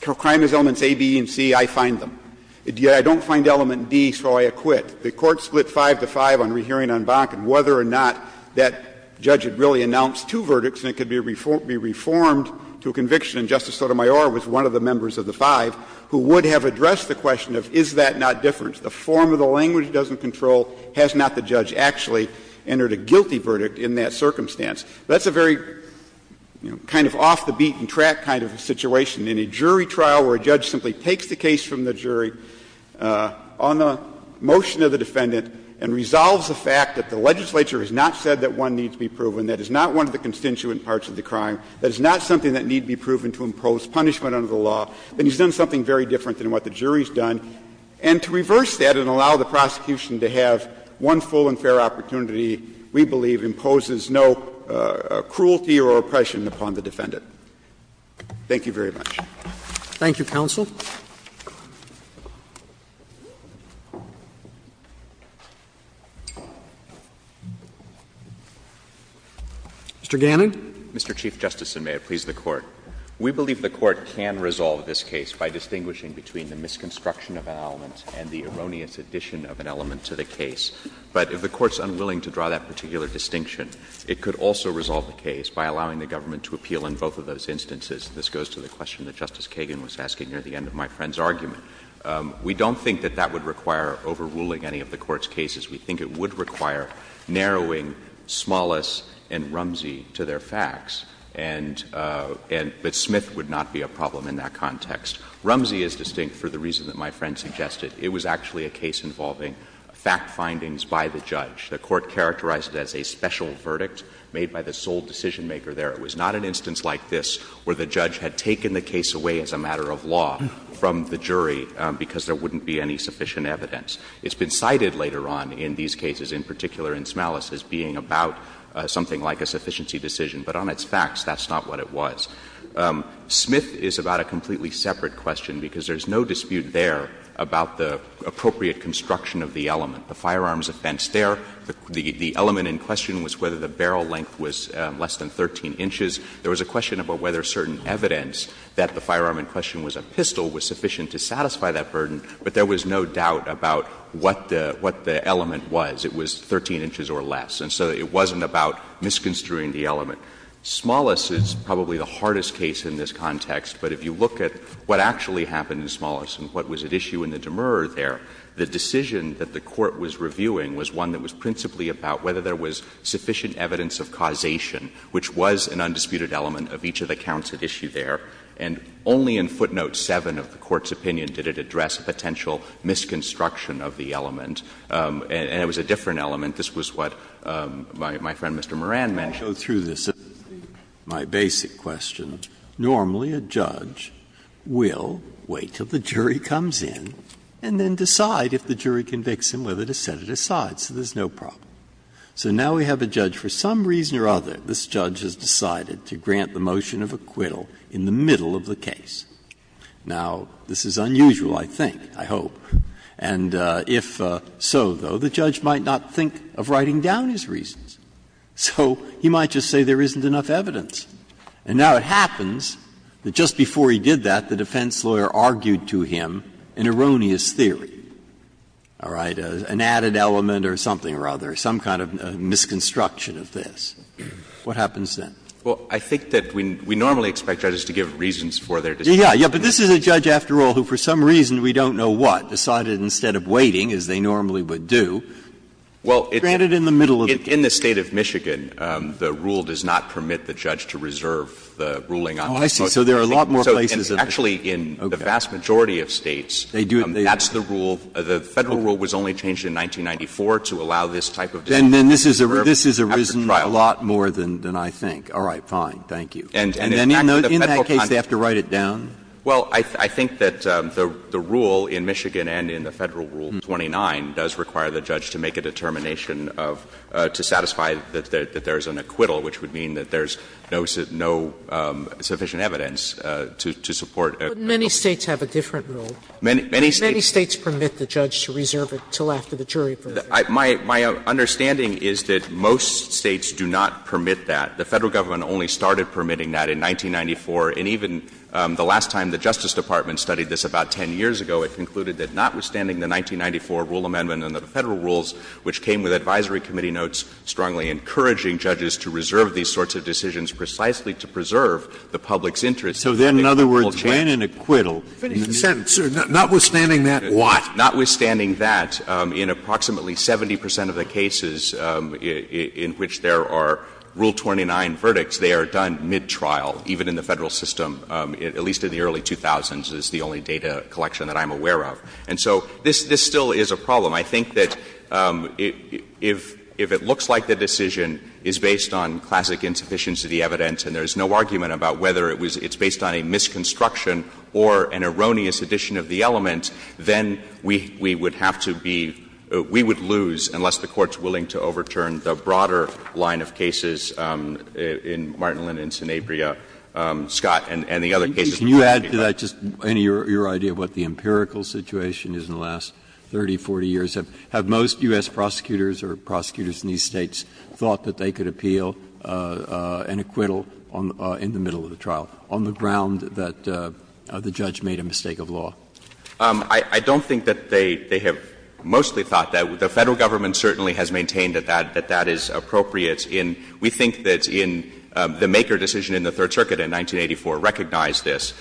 Crime is elements A, B, and C, I find them. Yet, I don't find element D, so I acquit. The Court split 5 to 5 on rehearing en banc and whether or not that judge had really announced two verdicts, and it could be reformed to a conviction, and Justice Sotomayor was one of the members of the five, who would have addressed the question of is that not different. The form of the language doesn't control, has not the judge actually entered a guilty verdict in that circumstance. That's a very, you know, kind of off-the-beaten-track kind of a situation. In a jury trial where a judge simply takes the case from the jury on the motion of the defendant and resolves the fact that the legislature has not said that one needs to be proven to impose punishment under the law, then he's done something very different than what the jury's done. And to reverse that and allow the prosecution to have one full and fair opportunity, we believe, imposes no cruelty or oppression upon the defendant. Thank you very much. Roberts. Thank you, counsel. Mr. Gannon. Mr. Chief Justice, and may it please the Court. We believe the Court can resolve this case by distinguishing between the misconstruction of an element and the erroneous addition of an element to the case. But if the Court's unwilling to draw that particular distinction, it could also resolve the case by allowing the government to appeal in both of those instances. This goes to the question that Justice Kagan was asking near the end of my friend's argument. We don't think that that would require overruling any of the Court's cases. We think it would require narrowing Smallis and Rumsey to their facts, and — but Smith would not be a problem in that context. Rumsey is distinct for the reason that my friend suggested. It was actually a case involving fact findings by the judge. The Court characterized it as a special verdict made by the sole decisionmaker there. It was not an instance like this where the judge had taken the case away as a matter of law from the jury because there wouldn't be any sufficient evidence. It's been cited later on in these cases, in particular in Smallis, as being about something like a sufficiency decision. But on its facts, that's not what it was. Smith is about a completely separate question because there's no dispute there about the appropriate construction of the element, the firearms offense. There, the element in question was whether the barrel length was less than 13 inches. There was a question about whether certain evidence that the firearm in question was a pistol was sufficient to satisfy that burden, but there was no doubt about what the element was. It was 13 inches or less. And so it wasn't about misconstruing the element. Smallis is probably the hardest case in this context, but if you look at what actually happened in Smallis and what was at issue in the demer there, the decision that the court made there was one that was principally about whether there was sufficient evidence of causation, which was an undisputed element of each of the counts at issue there, and only in footnote 7 of the Court's opinion did it address a potential misconstruction of the element, and it was a different element. This was what my friend Mr. Moran mentioned. Breyer, I'll go through this. My basic question, normally a judge will wait until the jury comes in and then decide if the jury convicts him whether to set it aside, so there's no problem. So now we have a judge, for some reason or other, this judge has decided to grant the motion of acquittal in the middle of the case. Now, this is unusual, I think, I hope. And if so, though, the judge might not think of writing down his reasons. So he might just say there isn't enough evidence. And now it happens that just before he did that, the defense lawyer argued to him an erroneous theory. All right. An added element or something or other, some kind of misconstruction of this. What happens then? Well, I think that we normally expect judges to give reasons for their decision. Yeah, but this is a judge, after all, who for some reason, we don't know what, decided instead of waiting, as they normally would do, granted in the middle of the case. Well, in the State of Michigan, the rule does not permit the judge to reserve the ruling on this motion. Oh, I see. So there are a lot more places that they do. Actually, in the vast majority of States, that's the rule. The Federal rule was only changed in 1994 to allow this type of decision. And then this has arisen a lot more than I think. All right, fine, thank you. And in that case, they have to write it down? Well, I think that the rule in Michigan and in the Federal Rule 29 does require the judge to make a determination to satisfy that there is an acquittal, which would mean that there is no sufficient evidence to support an acquittal. But many States have a different rule. Many States permit the judge to reserve it until after the jury verdict. My understanding is that most States do not permit that. The Federal Government only started permitting that in 1994. And even the last time the Justice Department studied this, about 10 years ago, it concluded that notwithstanding the 1994 rule amendment and the Federal rules, which came with advisory committee notes strongly encouraging judges to reserve these sorts of decisions precisely to preserve the public's interest in an acquittal change. So then, in other words, when an acquittal, notwithstanding that, what? Notwithstanding that, in approximately 70 percent of the cases in which there are Rule 29 verdicts, they are done mid-trial, even in the Federal system, at least in the early 2000s is the only data collection that I'm aware of. And so this still is a problem. I think that if it looks like the decision is based on classic insufficiency evidence and there is no argument about whether it's based on a misconstruction or an erroneous addition of the element, then we would have to be — we would lose, unless the Court's willing to overturn the broader line of cases in Martin, Linnitz, and Abrea, Scott, and the other cases before me. Breyer, did I just — your idea of what the empirical situation is in the last 30, 40 years? Have most U.S. prosecutors or prosecutors in these States thought that they could appeal an acquittal in the middle of the trial on the ground that the judge made a mistake of law? I don't think that they have mostly thought that. The Federal Government certainly has maintained that that is appropriate in — we think that in the Maker decision in the Third Circuit in 1984 recognized this.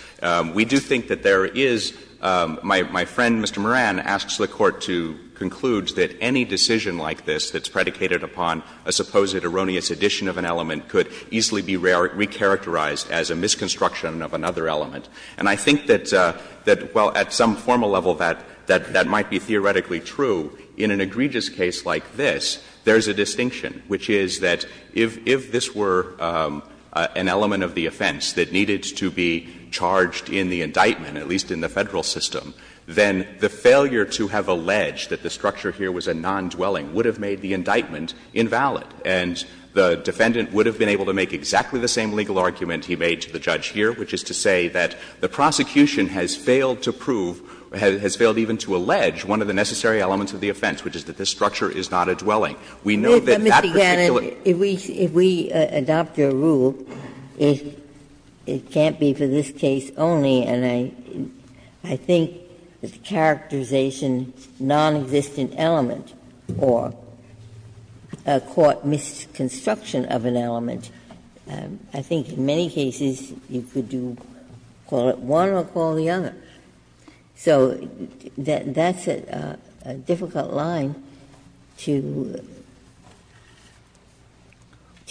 We do think that there is — my friend, Mr. Moran, asks the Court to conclude that any decision like this that's predicated upon a supposed erroneous addition of an element could easily be recharacterized as a misconstruction of another element. And I think that, well, at some formal level that might be theoretically true. In an egregious case like this, there is a distinction, which is that if this were an element of the offense that needed to be charged in the indictment, at least in the Federal system, then the failure to have alleged that the structure here was a non-dwelling would have made the indictment invalid, and the defendant would have been able to make exactly the same legal argument he made to the judge here, which is to say that the prosecution has failed to prove, has failed even to allege, one of the necessary elements of the offense, which is that this structure is not a dwelling. We know that that particular — Ginsburg. If we adopt your rule, it can't be for this case only, and I think that the characterization of a non-existent element or a court misconstruction of an element, I think in many cases you could do — call it one or call the other. So that's a difficult line to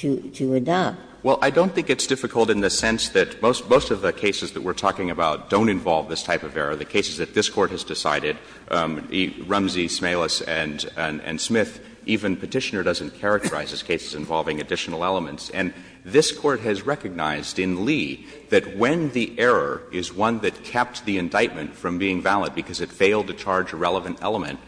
adopt. Well, I don't think it's difficult in the sense that most of the cases that we're talking about don't involve this type of error. The cases that this Court has decided, Rumsey, Smalis, and Smith, even Petitioner doesn't characterize as cases involving additional elements. And this Court has recognized in Lee that when the error is one that kept the indictment from being valid because it failed to charge a relevant element,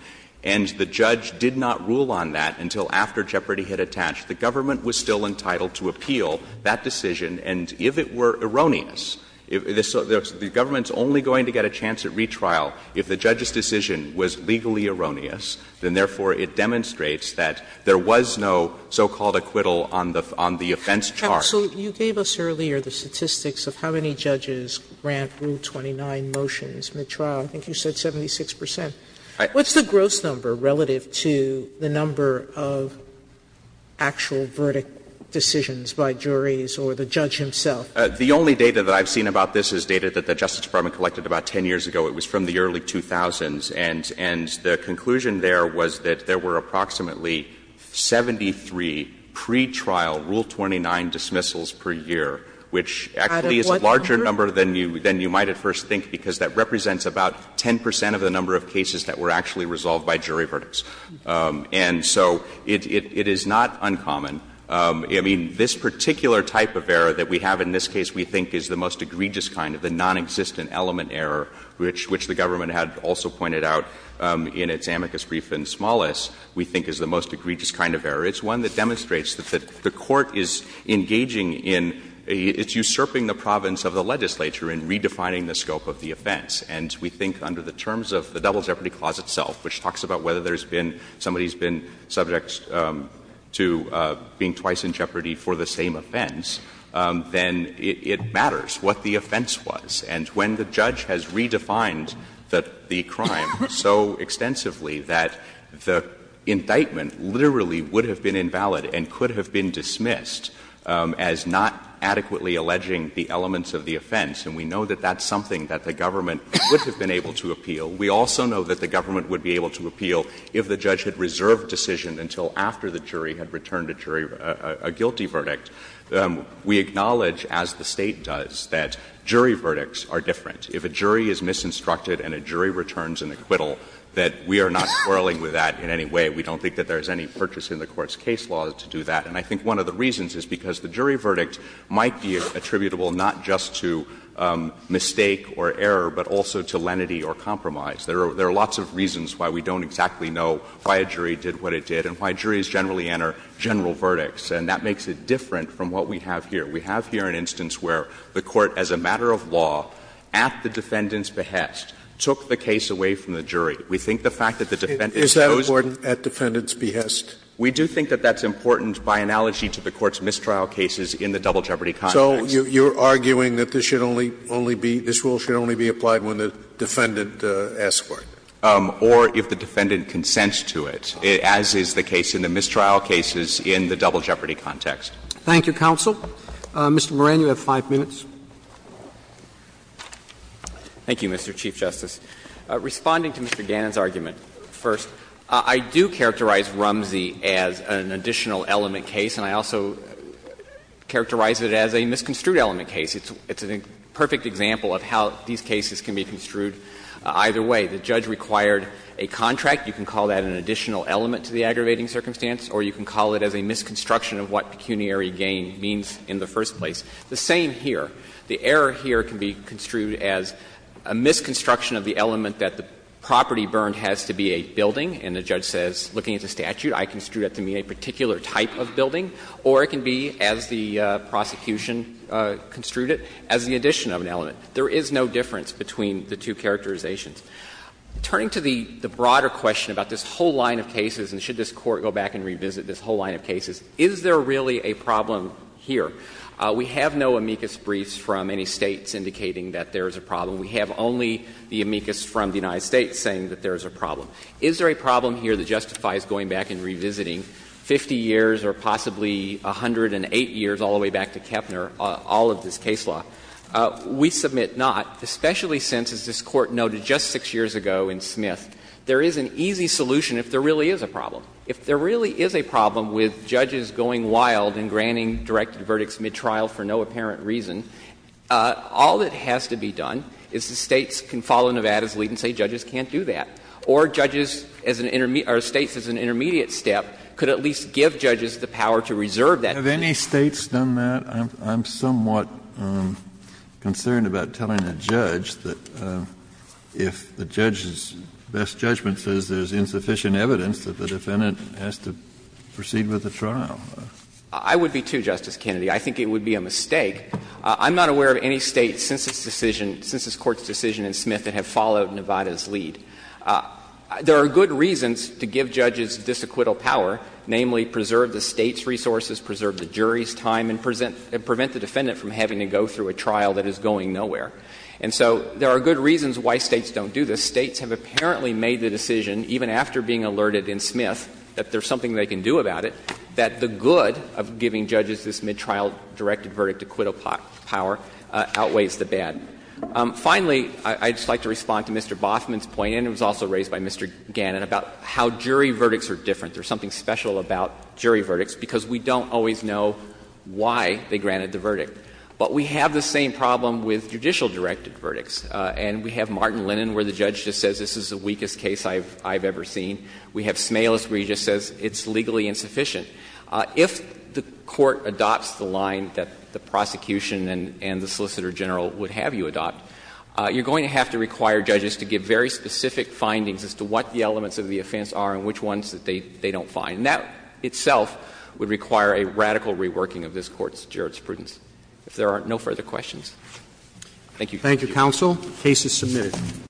and the judge did not rule on that until after jeopardy had attached, the government was still entitled to appeal that decision. And if it were erroneous, the government's only going to get a chance at retrial if the judge's decision was legally erroneous, then therefore it demonstrates that there was no so-called acquittal on the offense chart. Sotomayor, you gave us earlier the statistics of how many judges grant Rule 29 motions midtrial. I think you said 76 percent. What's the gross number relative to the number of actual verdict decisions by juries or the judge himself? The only data that I've seen about this is data that the Justice Department collected about 10 years ago. It was from the early 2000s. And the conclusion there was that there were approximately 73 pretrial Rule 29 dismissals per year, which actually is a larger number than you might at first think because that represents about 10 percent of the number of cases that were actually resolved by jury verdicts. And so it is not uncommon. I mean, this particular type of error that we have in this case we think is the most egregious kind of error. It's one that demonstrates that the Court is engaging in — it's usurping the province of the legislature in redefining the scope of the offense. And we think under the terms of the Double Jeopardy Clause itself, which talks about whether there's been — somebody's been subject to being twice in jeopardy for the same offense, then it matters what the offense was. And so extensively that the indictment literally would have been invalid and could have been dismissed as not adequately alleging the elements of the offense. And we know that that's something that the government would have been able to appeal. We also know that the government would be able to appeal if the judge had reserved decision until after the jury had returned a jury — a guilty verdict. We acknowledge, as the State does, that jury verdicts are different. If a jury is misinstructed and a jury returns an acquittal, that we are not quarreling with that in any way. We don't think that there's any purchase in the Court's case law to do that. And I think one of the reasons is because the jury verdict might be attributable not just to mistake or error, but also to lenity or compromise. There are lots of reasons why we don't exactly know why a jury did what it did and why juries generally enter general verdicts. And that makes it different from what we have here. We have here an instance where the Court, as a matter of law, at the defendant's behest, took the case away from the jury. We think the fact that the defendant chose— Scalia, is that important, at defendant's behest? We do think that that's important by analogy to the Court's mistrial cases in the double jeopardy context. So you're arguing that this should only be — this rule should only be applied when the defendant asks for it? Or if the defendant consents to it, as is the case in the mistrial cases in the double jeopardy context. Thank you, counsel. Mr. Moran, you have 5 minutes. Thank you, Mr. Chief Justice. Responding to Mr. Gannon's argument first, I do characterize Rumsey as an additional element case, and I also characterize it as a misconstrued element case. It's a perfect example of how these cases can be construed either way. The judge required a contract. You can call that an additional element to the aggravating circumstance, or you can call it as a misconstruction of what pecuniary gain means in the first place. The same here. The error here can be construed as a misconstruction of the element that the property burned has to be a building, and the judge says, looking at the statute, I construed it to be a particular type of building, or it can be, as the prosecution construed it, as the addition of an element. There is no difference between the two characterizations. Turning to the broader question about this whole line of cases, and should this Court go back and revisit this whole line of cases, is there really a problem here? We have no amicus briefs from any States indicating that there is a problem. We have only the amicus from the United States saying that there is a problem. Is there a problem here that justifies going back and revisiting 50 years or possibly 108 years, all the way back to Kepner, all of this case law? We submit not, especially since, as this Court noted just 6 years ago in Smith, there is an easy solution if there really is a problem. If there really is a problem with judges going wild and granting directed verdicts midtrial for no apparent reason, all that has to be done is the States can follow Nevada's lead and say judges can't do that. Or judges as an intermediate or States as an intermediate step could at least give judges the power to reserve that. Kennedy, have any States done that? I'm somewhat concerned about telling a judge that if the judge's best judgment is there is insufficient evidence that the defendant has to proceed with the trial. I would be, too, Justice Kennedy. I think it would be a mistake. I'm not aware of any States since this decision, since this Court's decision in Smith that have followed Nevada's lead. There are good reasons to give judges disacquittal power, namely preserve the States' resources, preserve the jury's time, and prevent the defendant from having to go through a trial that is going nowhere. And so there are good reasons why States don't do this. The States have apparently made the decision, even after being alerted in Smith that there is something they can do about it, that the good of giving judges this midtrial directed verdict, acquittal power, outweighs the bad. Finally, I would just like to respond to Mr. Boffman's point, and it was also raised by Mr. Gannon, about how jury verdicts are different. There is something special about jury verdicts because we don't always know why they granted the verdict. But we have the same problem with judicial directed verdicts. And we have Martin Lennon, where the judge just says this is the weakest case I have ever seen. We have Smalas, where he just says it's legally insufficient. If the Court adopts the line that the prosecution and the Solicitor General would have you adopt, you are going to have to require judges to give very specific findings as to what the elements of the offense are and which ones they don't find. And that itself would require a radical reworking of this Court's jurisprudence. If there are no further questions. Thank you. Thank you, counsel. The case is submitted.